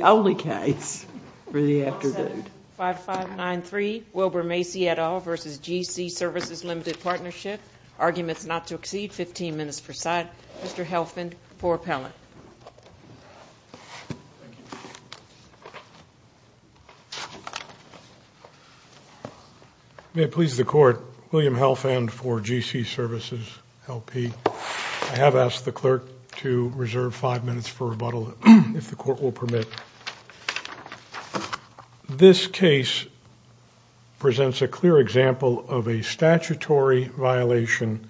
Arguments not to exceed 15 minutes per side, Mr. Helfand for appellate. May it please the Court, William Helfand for GC Services, LP. I have asked the clerk to reserve five minutes for rebuttal if the court will permit. This case presents a clear example of a statutory violation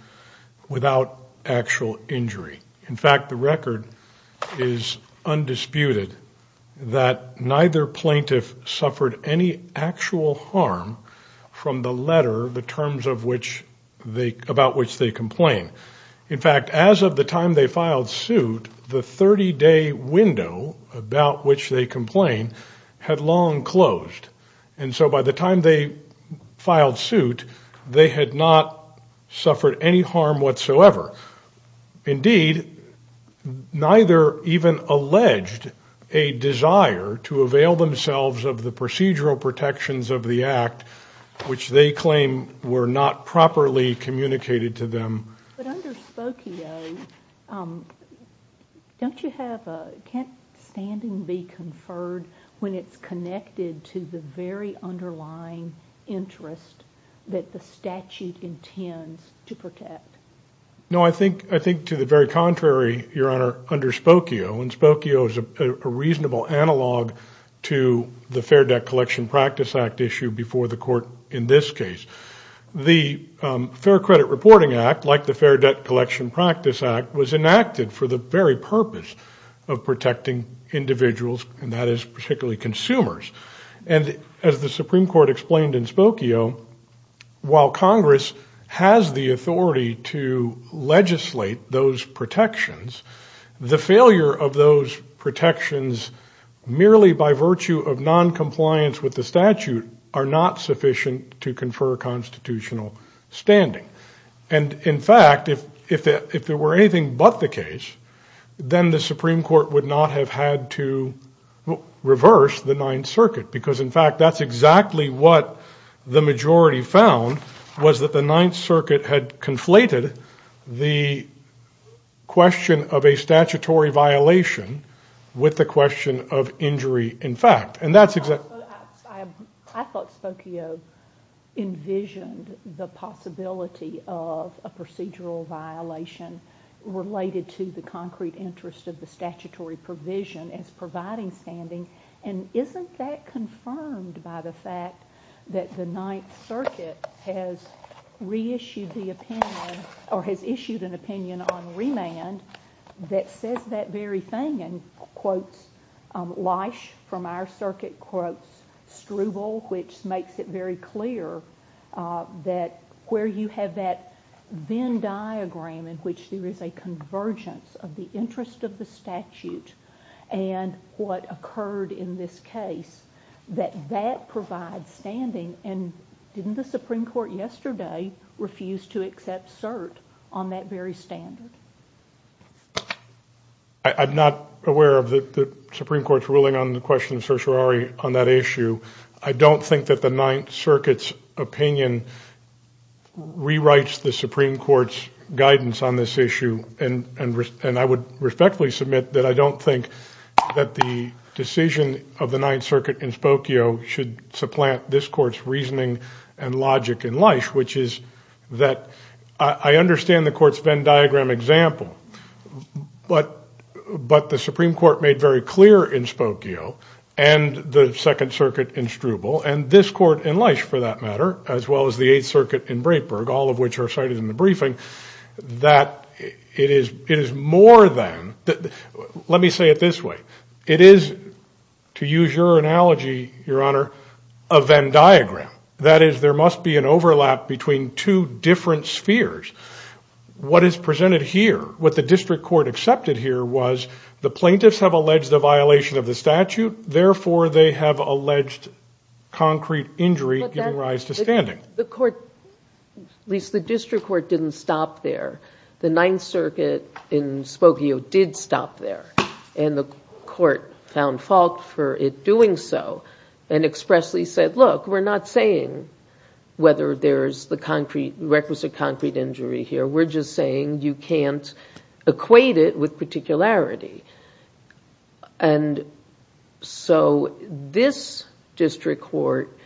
without actual injury. In fact, the record is undisputed that neither plaintiff suffered any actual harm from the letter, the terms of which they, about which they complain. In fact, as of the time they filed suit, the 30-day window, about which they complain, had long closed. And so by the time they filed suit, they had not suffered any harm whatsoever. Indeed, neither even alleged a desire to avail themselves of the procedural protections of the Act, which they claim were not properly communicated to them. But under Spokio, can't standing be conferred when it's connected to the very underlying interest that the statute intends to protect? No, I think to the very contrary, Your Honor, under Spokio. And Spokio is a reasonable analog to the Fair Debt Collection Practice Act issue before the Fair Credit Reporting Act, like the Fair Debt Collection Practice Act, was enacted for the very purpose of protecting individuals, and that is particularly consumers. And as the Supreme Court explained in Spokio, while Congress has the authority to legislate those protections, the failure of those protections, merely by virtue of non-compliance with the statute, are not sufficient to confer constitutional standing. And in fact, if there were anything but the case, then the Supreme Court would not have had to reverse the Ninth Circuit, because in fact that's exactly what the majority found, was that the Ninth Circuit had conflated the question of a statutory violation with the question of injury in fact. And that's exactly... I thought Spokio envisioned the possibility of a procedural violation related to the concrete interest of the statutory provision as providing standing, and isn't that confirmed by the fact that the Ninth Circuit has reissued the opinion, or has issued an opinion, which is laish from our circuit quotes, struble, which makes it very clear that where you have that Venn diagram in which there is a convergence of the interest of the statute and what occurred in this case, that that provides standing, and didn't the Supreme Court yesterday refuse to accept cert on that very standard? I'm not aware of the Supreme Court's ruling on the question of certiorari on that issue. I don't think that the Ninth Circuit's opinion rewrites the Supreme Court's guidance on this issue, and I would respectfully submit that I don't think that the decision of the Ninth Circuit in Spokio should supplant this Court's reasoning and logic in laish, which is that I understand the Court's Venn diagram example, but the Supreme Court made very clear in Spokio and the Second Circuit in Struble and this Court in laish, for that matter, as well as the Eighth Circuit in Breitberg, all of which are cited in the briefing, that it is more than, let me say it this way, it is, to use your analogy, Your Honor, a Venn diagram. That is, there must be an agreement in different spheres. What is presented here, what the District Court accepted here, was the plaintiffs have alleged a violation of the statute, therefore they have alleged concrete injury giving rise to standing. The Court, at least the District Court, didn't stop there. The Ninth Circuit in Spokio did stop there, and the Court found fault for it doing so, and expressly said, look, we're not saying whether there's the concrete, requisite concrete injury here, we're just saying you can't equate it with particularity, and so this District Court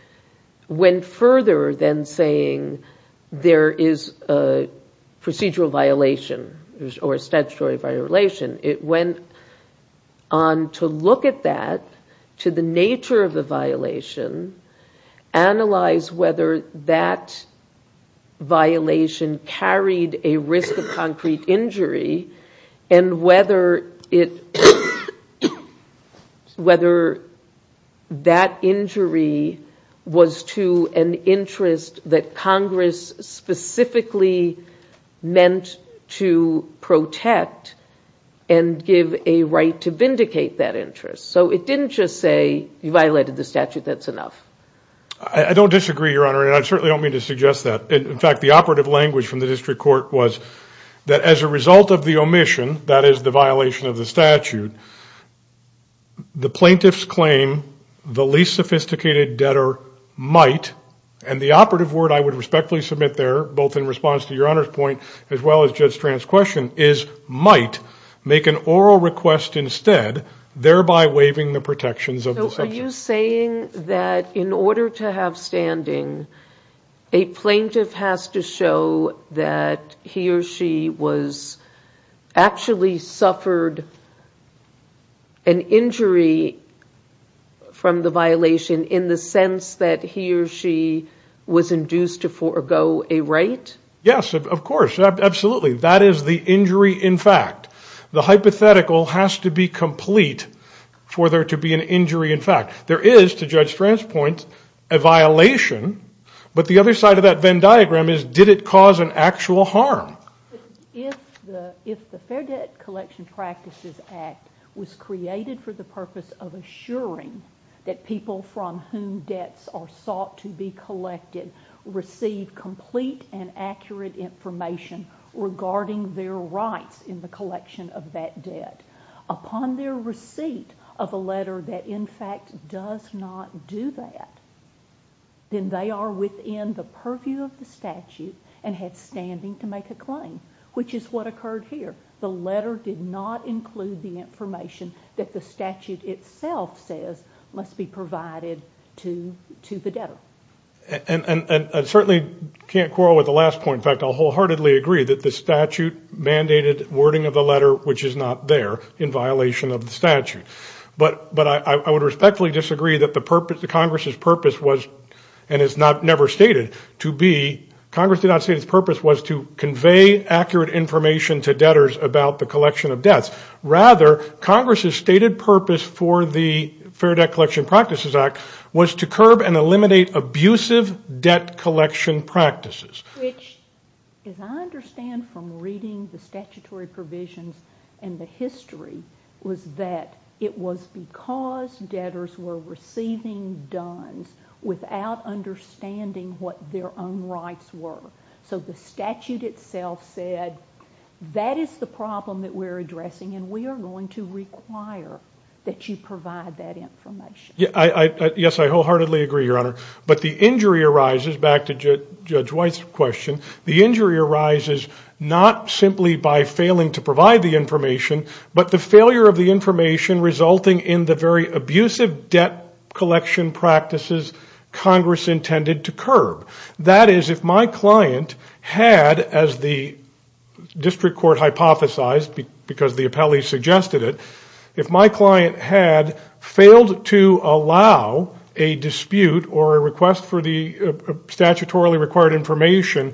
went further than saying there is a procedural violation or a statutory violation. It went on to look at that, to the nature of the violation, analyze whether that violation carried a risk of concrete injury, and whether it, whether that injury was to an interest that Congress specifically meant to protect and give a right to vindicate that interest. So it didn't just say, you violated the statute, that's enough. I don't disagree, Your Honor, and I certainly don't mean to suggest that. In fact, the operative language from the District Court was that as a result of the omission, that is, the violation of the plaintiff's claim, the least sophisticated debtor might, and the operative word I would respectfully submit there, both in response to Your Honor's point, as well as Judge Strand's question, is might make an oral request instead, thereby waiving the protections of the sentence. So are you saying that in order to have standing, a from the violation, in the sense that he or she was induced to forego a right? Yes, of course, absolutely. That is the injury in fact. The hypothetical has to be complete for there to be an injury in fact. There is, to Judge Strand's point, a violation, but the other side of that Venn diagram is, did it cause an actual harm? If the Fair Debt Collection Practices Act was created for the purpose of assuring that people from whom debts are sought to be collected receive complete and accurate information regarding their rights in the collection of that debt, upon their receipt of a letter that in fact does not do that, then they are within the purview of the statute and have standing to make a claim, which is what occurred here. The letter did not include the information that the statute itself says must be provided to the debtor. And I certainly can't quarrel with the last point. In fact, I'll wholeheartedly agree that the statute mandated wording of the letter, which is not there, in violation of the statute. But I would respectfully disagree that the purpose, the Congress's purpose was, and it's never stated to be, Congress did not say its accurate information to debtors about the collection of debts. Rather, Congress's stated purpose for the Fair Debt Collection Practices Act was to curb and eliminate abusive debt collection practices. Which, as I understand from reading the statutory provisions and the history, was that it was because debtors were receiving dones without understanding what their own rights were. So the statute said, that is the problem that we're addressing and we are going to require that you provide that information. Yes, I wholeheartedly agree, Your Honor. But the injury arises, back to Judge White's question, the injury arises not simply by failing to provide the information, but the failure of the information resulting in the very abusive debt collection practices Congress intended to curb. That is, if my client had, as the District Court hypothesized, because the appellee suggested it, if my client had failed to allow a dispute or a request for the statutorily required information,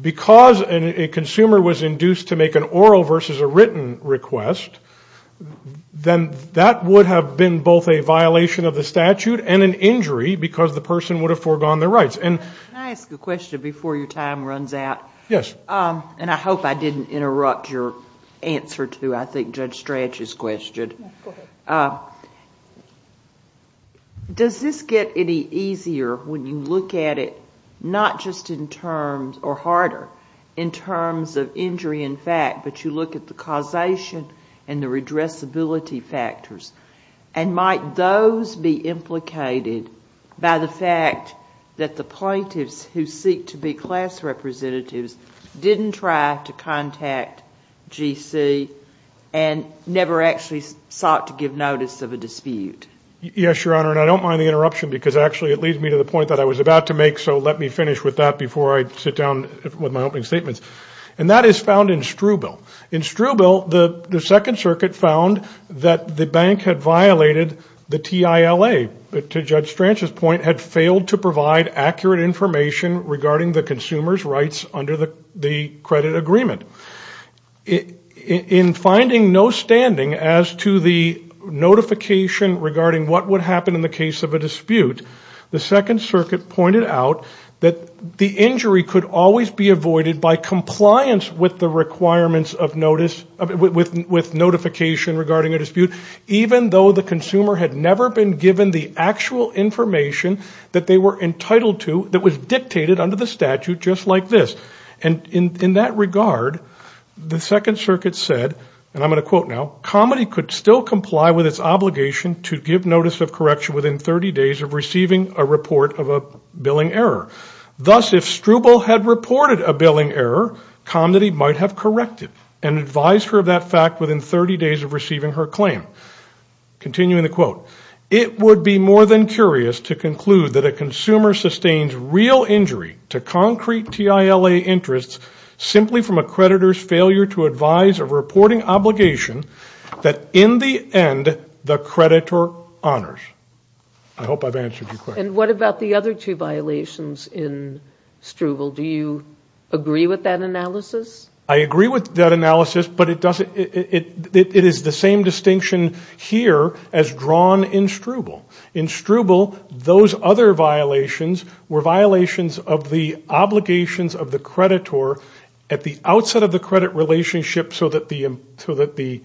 because a consumer was induced to make an oral versus a written request, then that would have been both a violation of the statute and an injury because the person would have foregone their rights. Can I ask a question before your time runs out? Yes. And I hope I didn't interrupt your answer to, I think, Judge Strach's question. Does this get any easier when you look at it, not just in terms, or and the redressability factors? And might those be implicated by the fact that the plaintiffs who seek to be class representatives didn't try to contact GC and never actually sought to give notice of a dispute? Yes, Your Honor, and I don't mind the interruption because actually it leads me to the point that I was about to make, so let me finish with that before I sit down with my opening argument. The Second Circuit found that the bank had violated the TILA. To Judge Strach's point, had failed to provide accurate information regarding the consumer's rights under the credit agreement. In finding no standing as to the notification regarding what would happen in the case of a dispute, the Second Circuit pointed out that the injury could always be avoided by compliance with the requirements of notice, with notification regarding a dispute, even though the consumer had never been given the actual information that they were entitled to, that was dictated under the statute just like this. And in that regard, the Second Circuit said, and I'm going to quote now, Comedy could still comply with its obligation to give notice of correction within 30 days of receiving a report of a billing error. Thus, if Struble had reported a billing error, Comedy might have corrected and advised her of that fact within 30 days of receiving her claim. Continuing the quote, it would be more than curious to conclude that a consumer sustains real injury to concrete TILA interests simply from a creditor's failure to advise a reporting obligation that in the end the creditor honors. I hope I've answered your question. And what about the other two violations in Struble? Do you agree with that analysis? I agree with that analysis, but it is the same distinction here as drawn in Struble. In Struble, those other violations were violations of the obligations of the creditor at the outset of the credit relationship so that the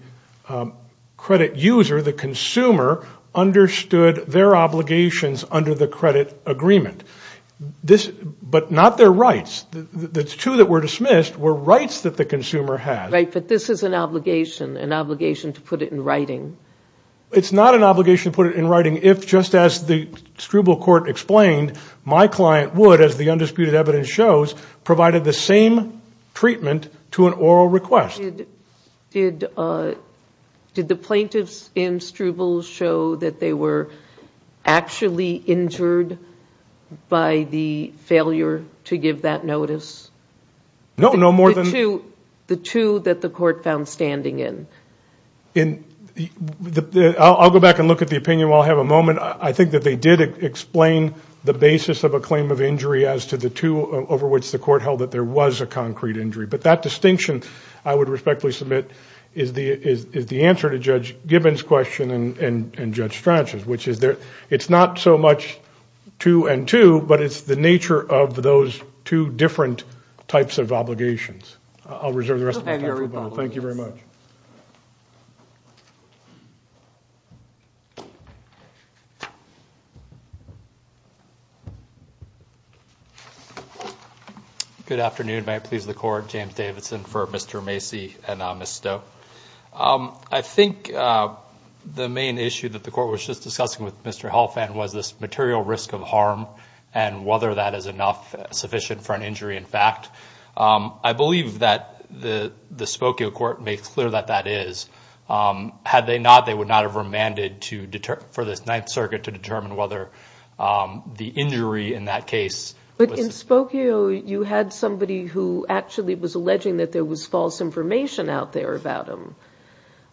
credit user, the consumer, understood their obligations under the credit agreement. But not their rights. The two that were dismissed were rights that the consumer has. Right, but this is an obligation, an obligation to put it in writing. It's not an obligation to put it in writing if, just as the Struble court explained, my client would, as the undisputed evidence shows, provided the same treatment to an oral request. Did the plaintiffs in Struble show that they were actually injured by the failure to give that notice? No, no more than... The two that the court found standing in? I'll go back and look at the opinion while I have a moment. I think that they did explain the basis of a claim of a concrete injury, but that distinction, I would respectfully submit, is the answer to Judge Gibbons' question and Judge Strachan's, which is that it's not so much two and two, but it's the nature of those two different types of obligations. I'll reserve the rest of my time for rebuttal. Thank you very much. Good afternoon. May it please the court, James Davidson for Mr. Macy and Ms. Stowe. I think the main issue that the court was just discussing with Mr. Holfand was this material risk of harm and whether that is enough, sufficient for an injury in fact. I believe that the Spokio court made clear that that is. Had they not, they would not have remanded for the Ninth Circuit to determine whether the injury in that case... But in Spokio, you had somebody who actually was alleging that there was false information out there about him.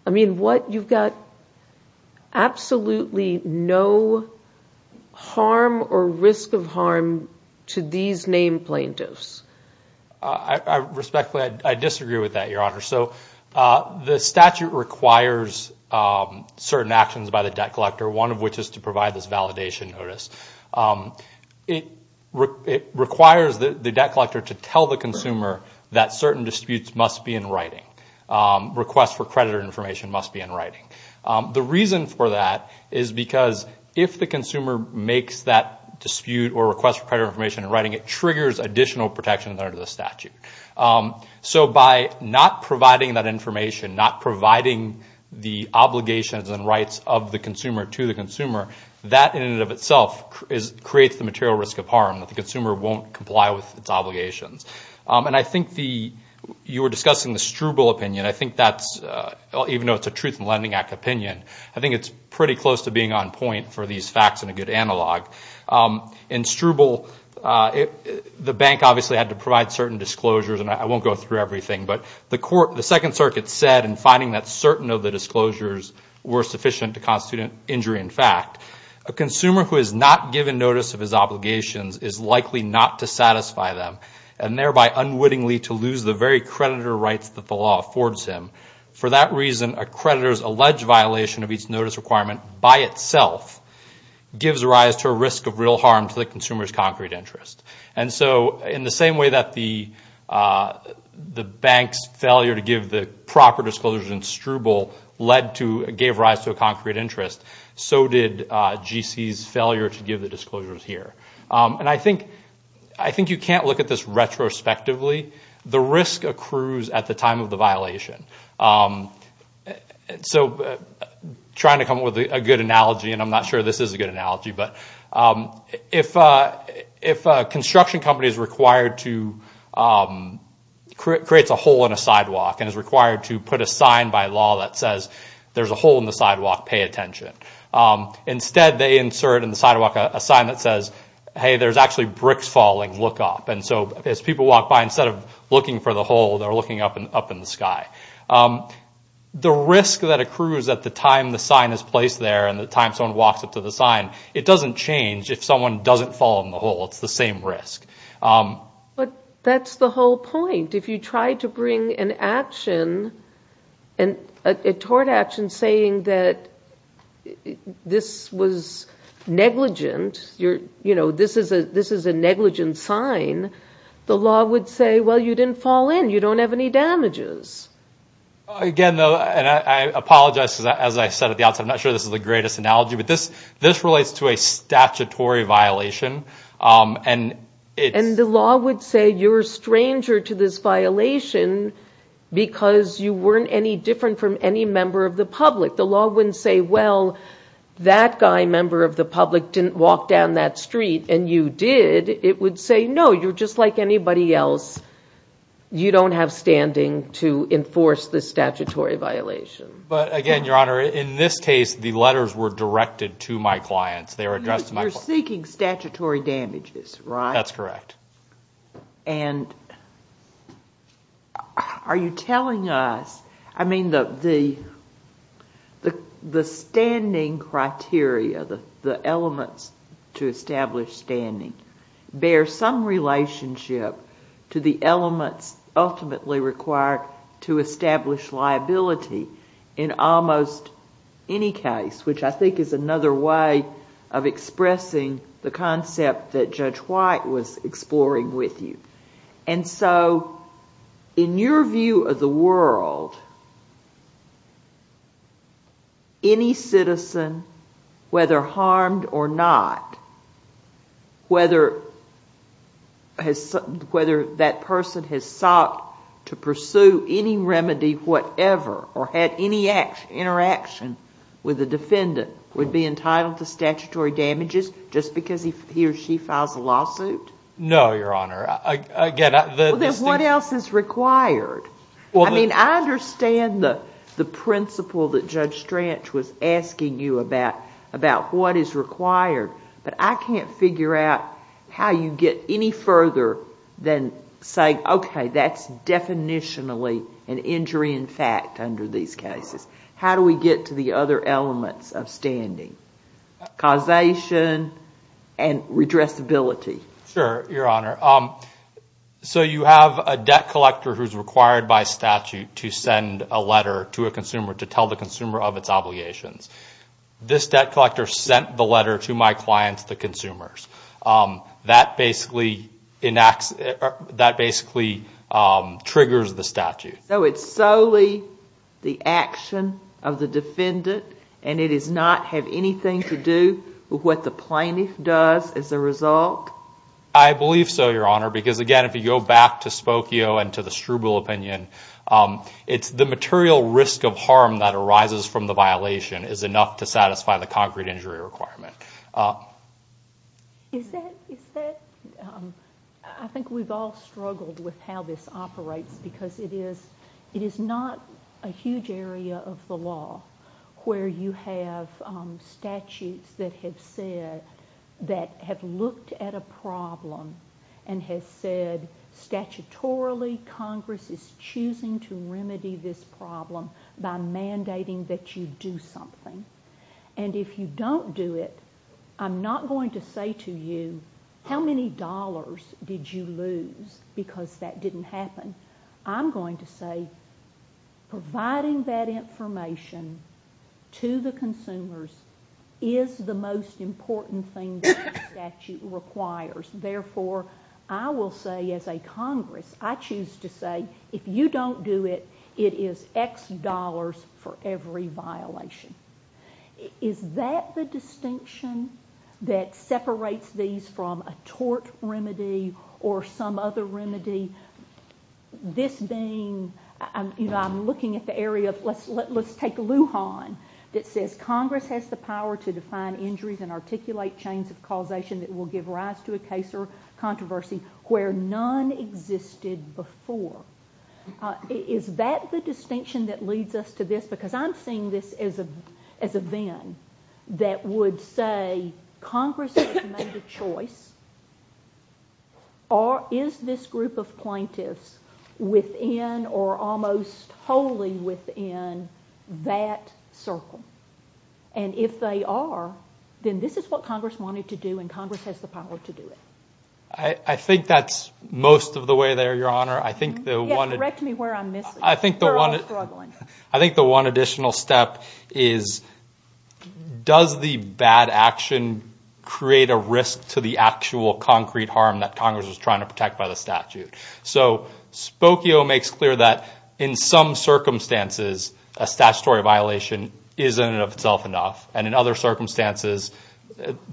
I mean, you've got absolutely no harm or risk of harm to these named plaintiffs. I respectfully disagree with that, Your Honor. The statute requires certain actions by the debt collector, one of which is to provide this validation notice. It requires the debt collector to tell the consumer that certain disputes must be in writing. Requests for credit information in writing triggers additional protections under the statute. So by not providing that information, not providing the obligations and rights of the consumer to the consumer, that in and of itself creates the material risk of harm, that the consumer won't comply with its obligations. I think you were discussing the Struble opinion. I think that's, even though it's a Truth in Lending Act opinion, I think it's pretty close to being on point for these facts and a good analog. In Struble, the bank obviously had to provide certain disclosures. I won't go through everything, but the Second Circuit said in finding that certain of the disclosures were sufficient to constitute an injury in fact, a consumer who has not given notice of his obligations is likely not to satisfy them and thereby unwittingly to lose the very creditor rights that the law affords him. For that reason, a creditor's alleged violation of each notice requirement by itself gives rise to a risk of real harm to the consumer's concrete interest. In the same way that the bank's failure to give the proper disclosures in Struble gave rise to a concrete interest, so did GC's failure to give the disclosures here. I think you can't look at this retrospectively. The risk accrues at the time of the violation. Trying to come up with a good analogy, and I'm not sure this is a good analogy, but if a construction company creates a hole in a sidewalk and is required to put a sign by the sidewalk, pay attention. Instead, they insert in the sidewalk a sign that says, hey, there's actually bricks falling, look up. As people walk by, instead of looking for the hole, they're looking up in the sky. The risk that accrues at the time the sign is placed there and the time someone walks up to the sign, it doesn't change if someone doesn't fall in the hole. It's the same risk. But that's the whole point. If you try to bring an action, a tort action, saying that this was negligent, this is a negligent sign, the law would say, well, you didn't fall in, you don't have any damages. Again, I apologize, as I said at the outset, I'm not sure this is the greatest analogy, but this relates to a statutory violation. And the law would say you're a stranger to this violation because you weren't any different from any member of the public. The law wouldn't say, well, that guy, member of the public, didn't walk down that street, and you did. It would say, no, you're just like anybody else. You don't have standing to enforce this statutory violation. But again, Your Honor, in this case, the letters were directed to my clients. They were addressed to my clients. You're seeking statutory damages, right? That's correct. Are you telling us, I mean, the standing criteria, the elements to establish standing, bear some relationship to the elements ultimately required to establish liability in almost any case, which I think is another way of expressing the concept that Judge White was exploring with you. And so, in your view of the world, any citizen, whether harmed or not, whether, you know, whether that person has sought to pursue any remedy, whatever, or had any interaction with a defendant would be entitled to statutory damages just because he or she files a lawsuit? No, Your Honor. Again, the... Then what else is required? I mean, I understand the principle that Judge Stranch was asking you about what is required, but I can't figure out how you get any further than saying, okay, that's definitionally an injury in fact under these cases. How do we get to the other elements of standing, causation and redressability? Sure, Your Honor. So you have a debt collector who's required by statute to send a letter to a consumer to tell the consumer of its obligations. This debt collector sent the letter to my clients, the consumers. That basically triggers the statute. So it's solely the action of the defendant and it does not have anything to do with what the plaintiff does as a result? I believe so, Your Honor, because again, if you go back to Spokio and to the Struble opinion, it's the material risk of harm that arises from the violation is enough to satisfy the concrete injury requirement. Is that... I think we've all struggled with how this operates because it is not a huge area of the law where you have statutes that have said, that have looked at a problem and has said, statutorily, Congress is choosing to remedy this problem by mandating that you do something. And if you don't do it, I'm not going to say to you, how many dollars did you lose because that didn't happen? I'm going to say, providing that information to the consumers is the most important thing that the statute requires. Therefore, I will say as a Congress, I choose to say, if you don't do it, it is X dollars for every violation. Is that the distinction that separates these from a tort remedy or some other remedy? This being, I'm looking at the area of, let's take Lujan that says, Congress has the power to define injuries and articulate chains of causation that will give rise to a case or controversy where none existed before. Is that the distinction that leads us to this? Because I'm seeing this as a VIN that would say, Congress has made a choice or is this group of plaintiffs within or almost wholly within that circle? And if they are, then this is what Congress wanted to do and Congress has the power to do it. I think that's most of the way there, Your Honor. I think the one additional step is, does the bad action create a risk to the actual concrete harm that Congress is trying to protect by the statute? Spokio makes clear that in some circumstances, a statutory violation is in and of itself enough and in other circumstances,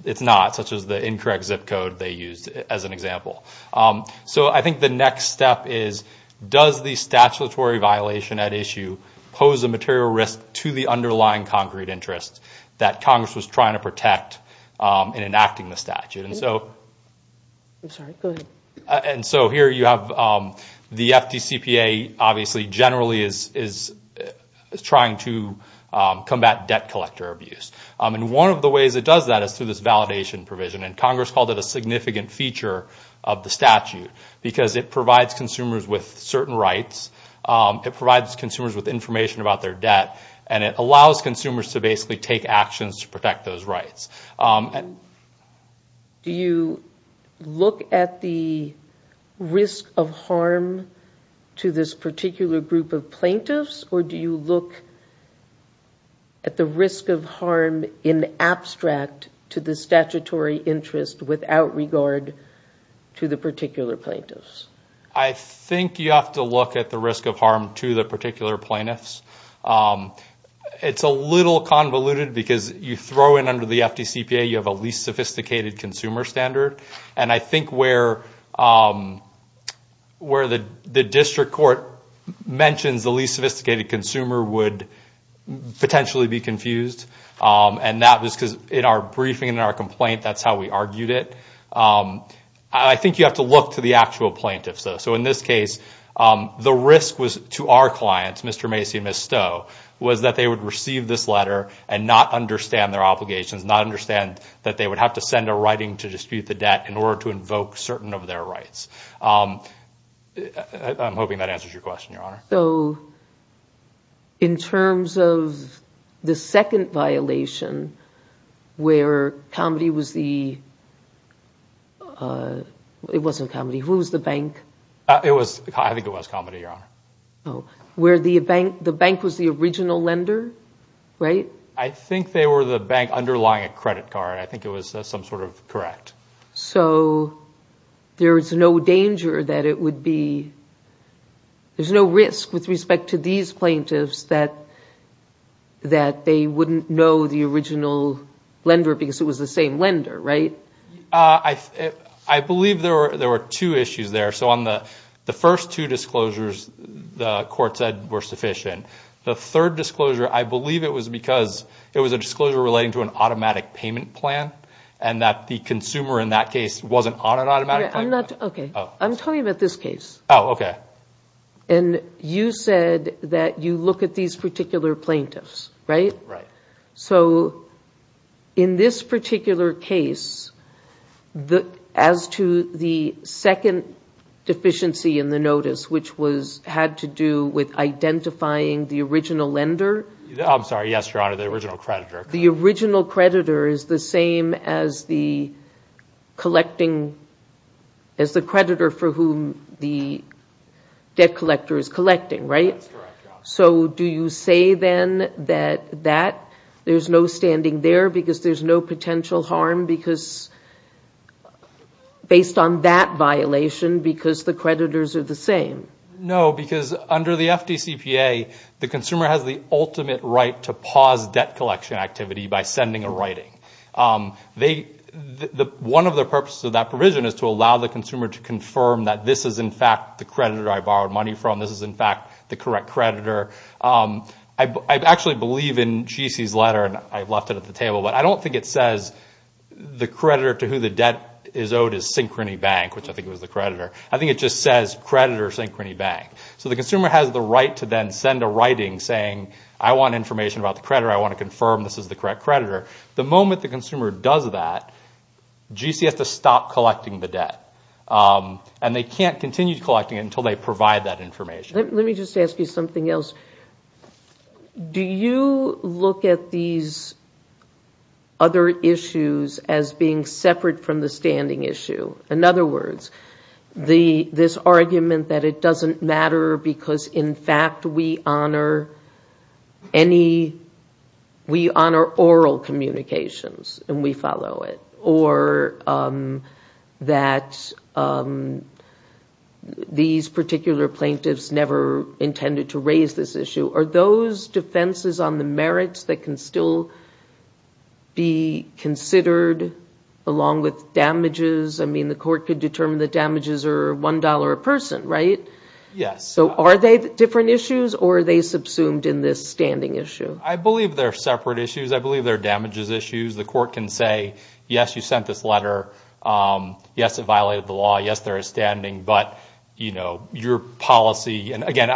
it's not, such as the incorrect zip code they used as an example. I think the next step is, does the statutory violation at issue pose a material risk to the underlying concrete interest that Congress was trying to protect in enacting the statute? And so here you have the FDCPA obviously generally is trying to combat debt collector abuse. One of the ways it does that is through this validation provision and Congress called it a significant feature of the statute because it provides consumers with certain rights. It provides consumers with information about their debt and it allows consumers to basically take actions to protect those rights. Do you look at the risk of harm to this particular group of plaintiffs or do you look at the risk of harm in abstract to the statutory interest without regard to the particular plaintiffs? I think you have to look at the risk of harm to the particular plaintiffs. It's a little convoluted because you throw in under the FDCPA, you have a least sophisticated consumer standard and I think where the district court mentions the least sophisticated consumer would potentially be confused and that was because in our briefing, in our complaint, that's how we argued it. I think you have to look to the actual plaintiffs though. So in this case, the risk was to our not understand their obligations, not understand that they would have to send a writing to dispute the debt in order to invoke certain of their rights. I'm hoping that answers your question, Your Honor. In terms of the second violation where Comedy was the, it wasn't Comedy, who was the bank? I think it was Comedy, Your Honor. Where the bank was the original lender, right? I think they were the bank underlying a credit card. I think it was some sort of correct. So there's no danger that it would be, there's no risk with respect to these plaintiffs that they wouldn't know the original lender because it was the same lender, right? I believe there were two issues there. So on the first two disclosures, the court said were sufficient. The third disclosure, I believe it was because it was a disclosure relating to an automatic payment plan and that the consumer in that case wasn't on an automatic payment plan. Okay. I'm talking about this case. Oh, okay. And you said that you look at these particular plaintiffs, right? Right. So in this particular case, as to the second deficiency in the notice, which was, had to do with identifying the original lender. I'm sorry. Yes, Your Honor, the original creditor. The original creditor is the same as the collecting, as the creditor for whom the debt collector is collecting, right? That's correct, Your Honor. So do you say then that there's no standing there because there's no potential harm based on that violation because the creditors are the same? No, because under the FDCPA, the consumer has the ultimate right to pause debt collection activity by sending a writing. One of the purposes of that provision is to allow the consumer to confirm that this is in fact the creditor I borrowed money from, this is in fact the creditor. I actually believe in G.C.'s letter, and I've left it at the table, but I don't think it says the creditor to who the debt is owed is Synchrony Bank, which I think it was the creditor. I think it just says creditor Synchrony Bank. So the consumer has the right to then send a writing saying, I want information about the creditor, I want to confirm this is the correct creditor. The moment the consumer does that, G.C. has to stop collecting the debt, and they can't continue collecting it until they provide that information. Let me just ask you something else. Do you look at these other issues as being separate from the standing issue? In other words, this argument that it doesn't matter because in fact we honor any, we honor oral communications and we follow it, or that these particular plaintiffs never intended to raise this issue, are those defenses on the merits that can still be considered along with damages? I mean, the court could determine the damages are $1 a person, right? Yes. So are they different issues, or are they subsumed in this standing issue? I believe they're separate issues. I believe they're damages issues. The court can say, yes, you sent this letter, yes, it violated the law, yes, there is standing, but you're a policy, and again,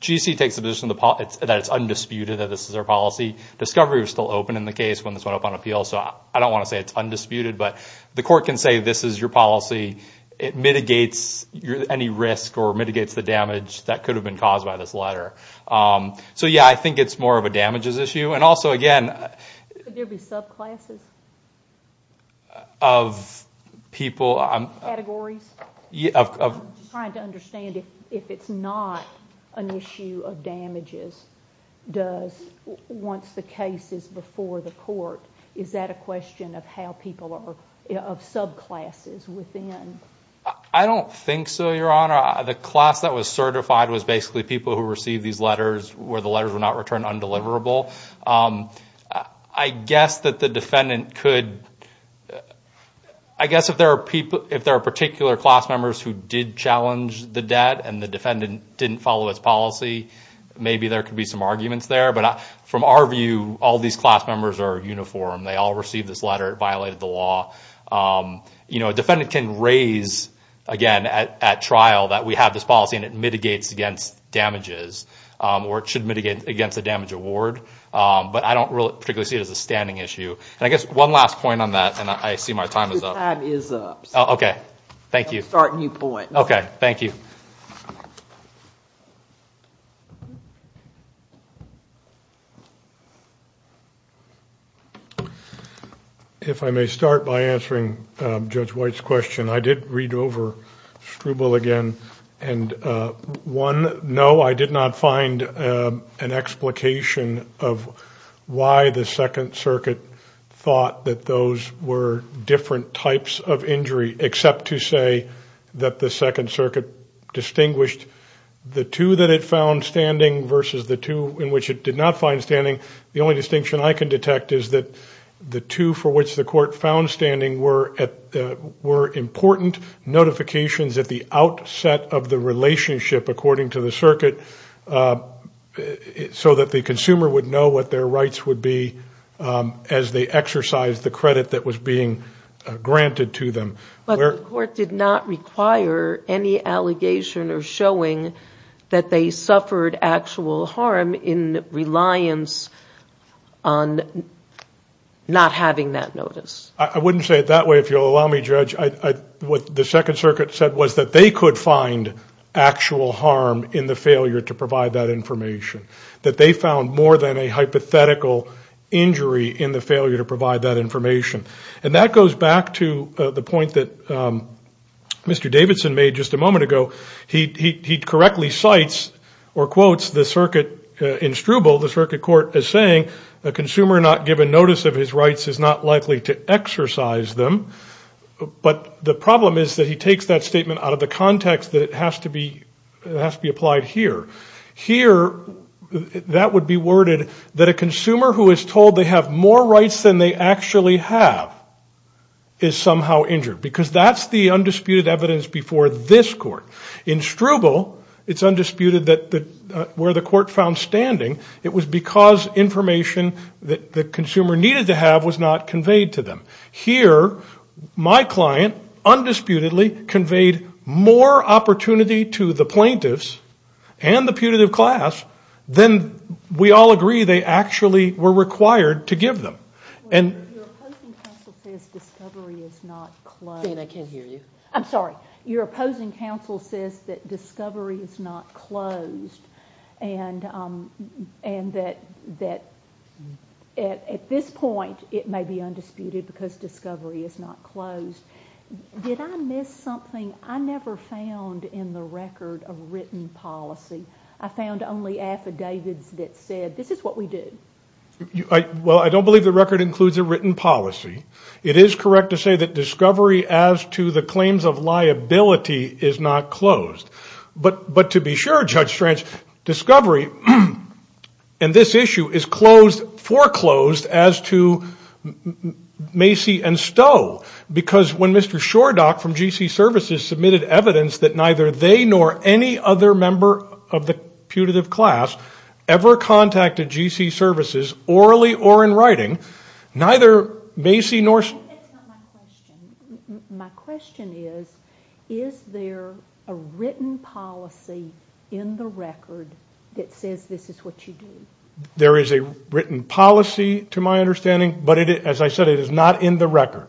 G.C. takes the position that it's undisputed that this is their policy. Discovery was still open in the case when this went up on appeal, so I don't want to say it's undisputed, but the court can say this is your policy. It mitigates any risk or mitigates the damage that could have been caused by this letter. So yeah, I think it's more of a damages issue, and also again... Could there be subclasses? Of people... Categories? I'm just trying to understand if it's not an issue of damages, does, once the case is before the court, is that a question of how people are, of subclasses within? I don't think so, Your Honor. The class that was certified was basically people who received these letters where the letters were not returned undeliverable. I guess that the defendant could... I guess if there are particular class members who did challenge the debt and the defendant didn't follow its policy, maybe there could be some arguments there, but from our view, all these class members are uniform. They all received this letter. It violated the law. A defendant can raise, again, at trial that we have this policy and it mitigates against damages, or it should mitigate against a damage award, but I don't particularly see it as a standing issue. I guess one last point on that, and I see my time is up. Your time is up. Okay. Thank you. I'm starting you point. Okay. Thank you. If I may start by answering Judge White's question. I did read over Struble again, and one, no, I did not find an explication of why the Second Circuit thought that those were different types of injury except to say that the Second Circuit distinguished the two that it found standing versus the two in which it did not find standing. The only distinction I can detect is that the two for which the court found standing were important notifications at the outset of the relationship, according to the circuit, so that the consumer would know what their rights would be as they exercised the credit that was being granted to them. But the court did not require any allegation or showing that they suffered actual harm in reliance on not having that notice. I wouldn't say it that way, if you'll allow me, Judge. What the Second Circuit said was that they could find actual harm in the failure to provide that information, that they found more than a hypothetical injury in the failure to provide that information. And that goes back to the point that Mr. Davidson made just a moment ago. He correctly cites or quotes the circuit in Struble, the circuit court, as saying, a consumer not given notice of his rights is not likely to exercise them. But the problem is that he takes that statement out of the context that it has to be applied here. Here, that would be worded that a consumer who is told they have more rights than they actually have is somehow injured, because that's the undisputed evidence before this court. In Struble, it's undisputed that where the court found standing, it was because information that the consumer needed to have was not conveyed to them. Here, my client, undisputedly, conveyed more opportunity to the plaintiffs and the putative class than we all agree they actually were required to give them. Your opposing counsel says that discovery is not closed. Jane, I can't hear you. And that at this point, it may be undisputed because discovery is not closed. Did I miss something? I never found in the record a written policy. I found only affidavits that said, this is what we did. Well, I don't believe the record includes a written policy. It is correct to say that the claims of liability is not closed. But to be sure, Judge Strange, discovery in this issue is foreclosed as to Macy and Stowe, because when Mr. Shordock from GC Services submitted evidence that neither they nor any other member of the putative class ever contacted GC Services, orally or in writing, neither Macy nor Stowe... That's not my question. My question is, is there a written policy in the record that says this is what you do? There is a written policy, to my understanding, but as I said, it is not in the record.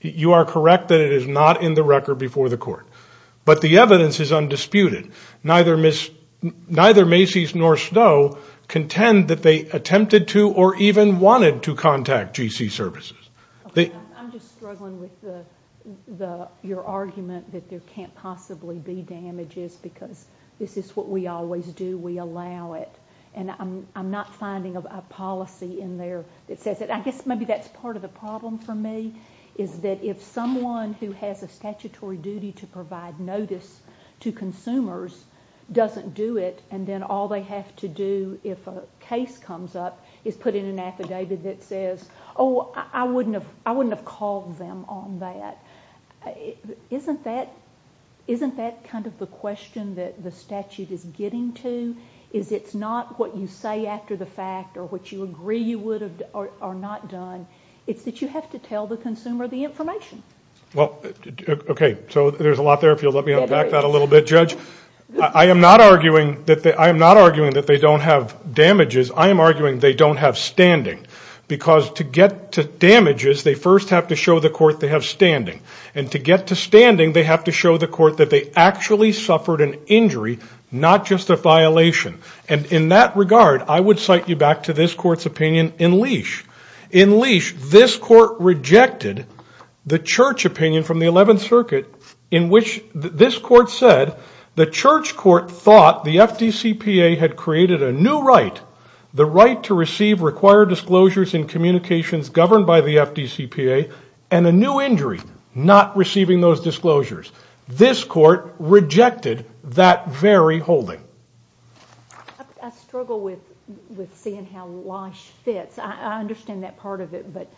You are correct that it is not in the record before the court. But the evidence is undisputed. Neither Macy's nor Stowe contend that they attempted to or even wanted to contact GC Services. I'm just struggling with your argument that there can't possibly be damages because this is what we always do. We allow it. I'm not finding a policy in there that says it. I guess maybe that's part of the problem for me, is that if someone who has a statutory duty to provide notice to consumers doesn't do it, and then all they have to do if a case comes up is put in an affidavit that says, oh, I wouldn't have called them on that, isn't that kind of the question that the statute is getting to? Is it not what you say after the fact or what you agree you would have or not done? It's that you have to tell the consumer the information. Well, okay. So there's a lot there. If you'll let me unpack that a little bit, Judge. I am not arguing that they don't have damages. I am arguing they don't have standing. Because to get to damages, they first have to show the court they have standing. And to get to standing, they have to show the court that they actually suffered an injury, not just a violation. And in that regard, I would cite you back to this court's opinion in Leash. In Leash, this court rejected the church opinion from the 11th Circuit in which this court said the church court thought the FDCPA had created a new right, the right to receive required disclosures in communications governed by the FDCPA, and a new injury, not receiving those disclosures. This court rejected that very holding. I struggle with seeing how Leash fits. I understand that part of it, but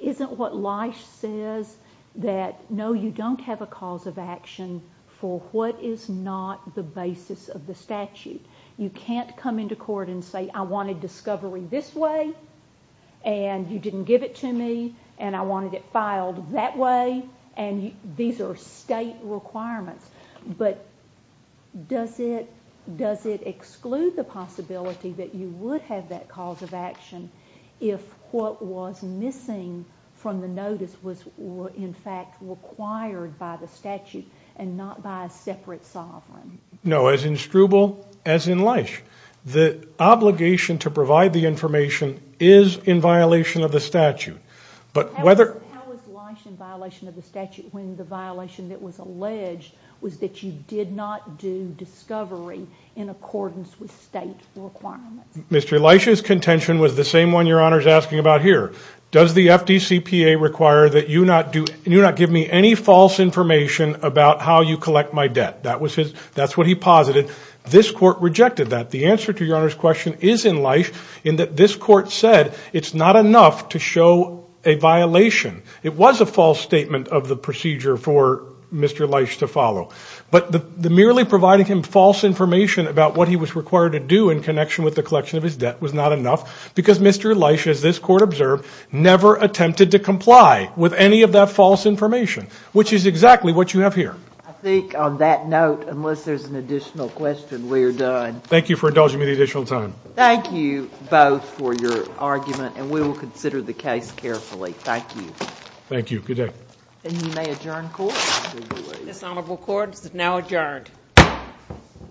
isn't what Leash says that no, you don't have a cause of action for what is not the basis of the statute? You can't come into court and say, I wanted discovery this way, and you didn't give it to me, and I wanted it filed that way, and these are state requirements. But does it exclude the possibility that you would have that cause of action if what was missing from the notice was in fact required by the statute and not by a separate sovereign? No, as in Struble, as in Leash, the obligation to provide the information is in violation of the statute. But whether... How is Leash in violation of the statute when the violation that was alleged was that you did not do discovery in accordance with state requirements? Mr. Leash's contention was the same one Your Honor is asking about here. Does the FDCPA require that you not give me any false information about how you collect my debt? That's what he posited. This court rejected that. The answer to Your Honor's question is in Leash, in that this court said it's not enough to show a violation. It was a false statement of the procedure for Mr. Leash to follow. But merely providing him false information about what he was required to do in connection with the collection of his debt was not enough because Mr. Leash, as this court observed, never attempted to comply with any of that false information, which is exactly what you have here. I think on that note, unless there's an additional question, we're done. Thank you for indulging me the additional time. Thank you both for your argument and we will consider the case carefully. Thank you. Thank you. Good day. And you may adjourn court. This honorable court is now adjourned.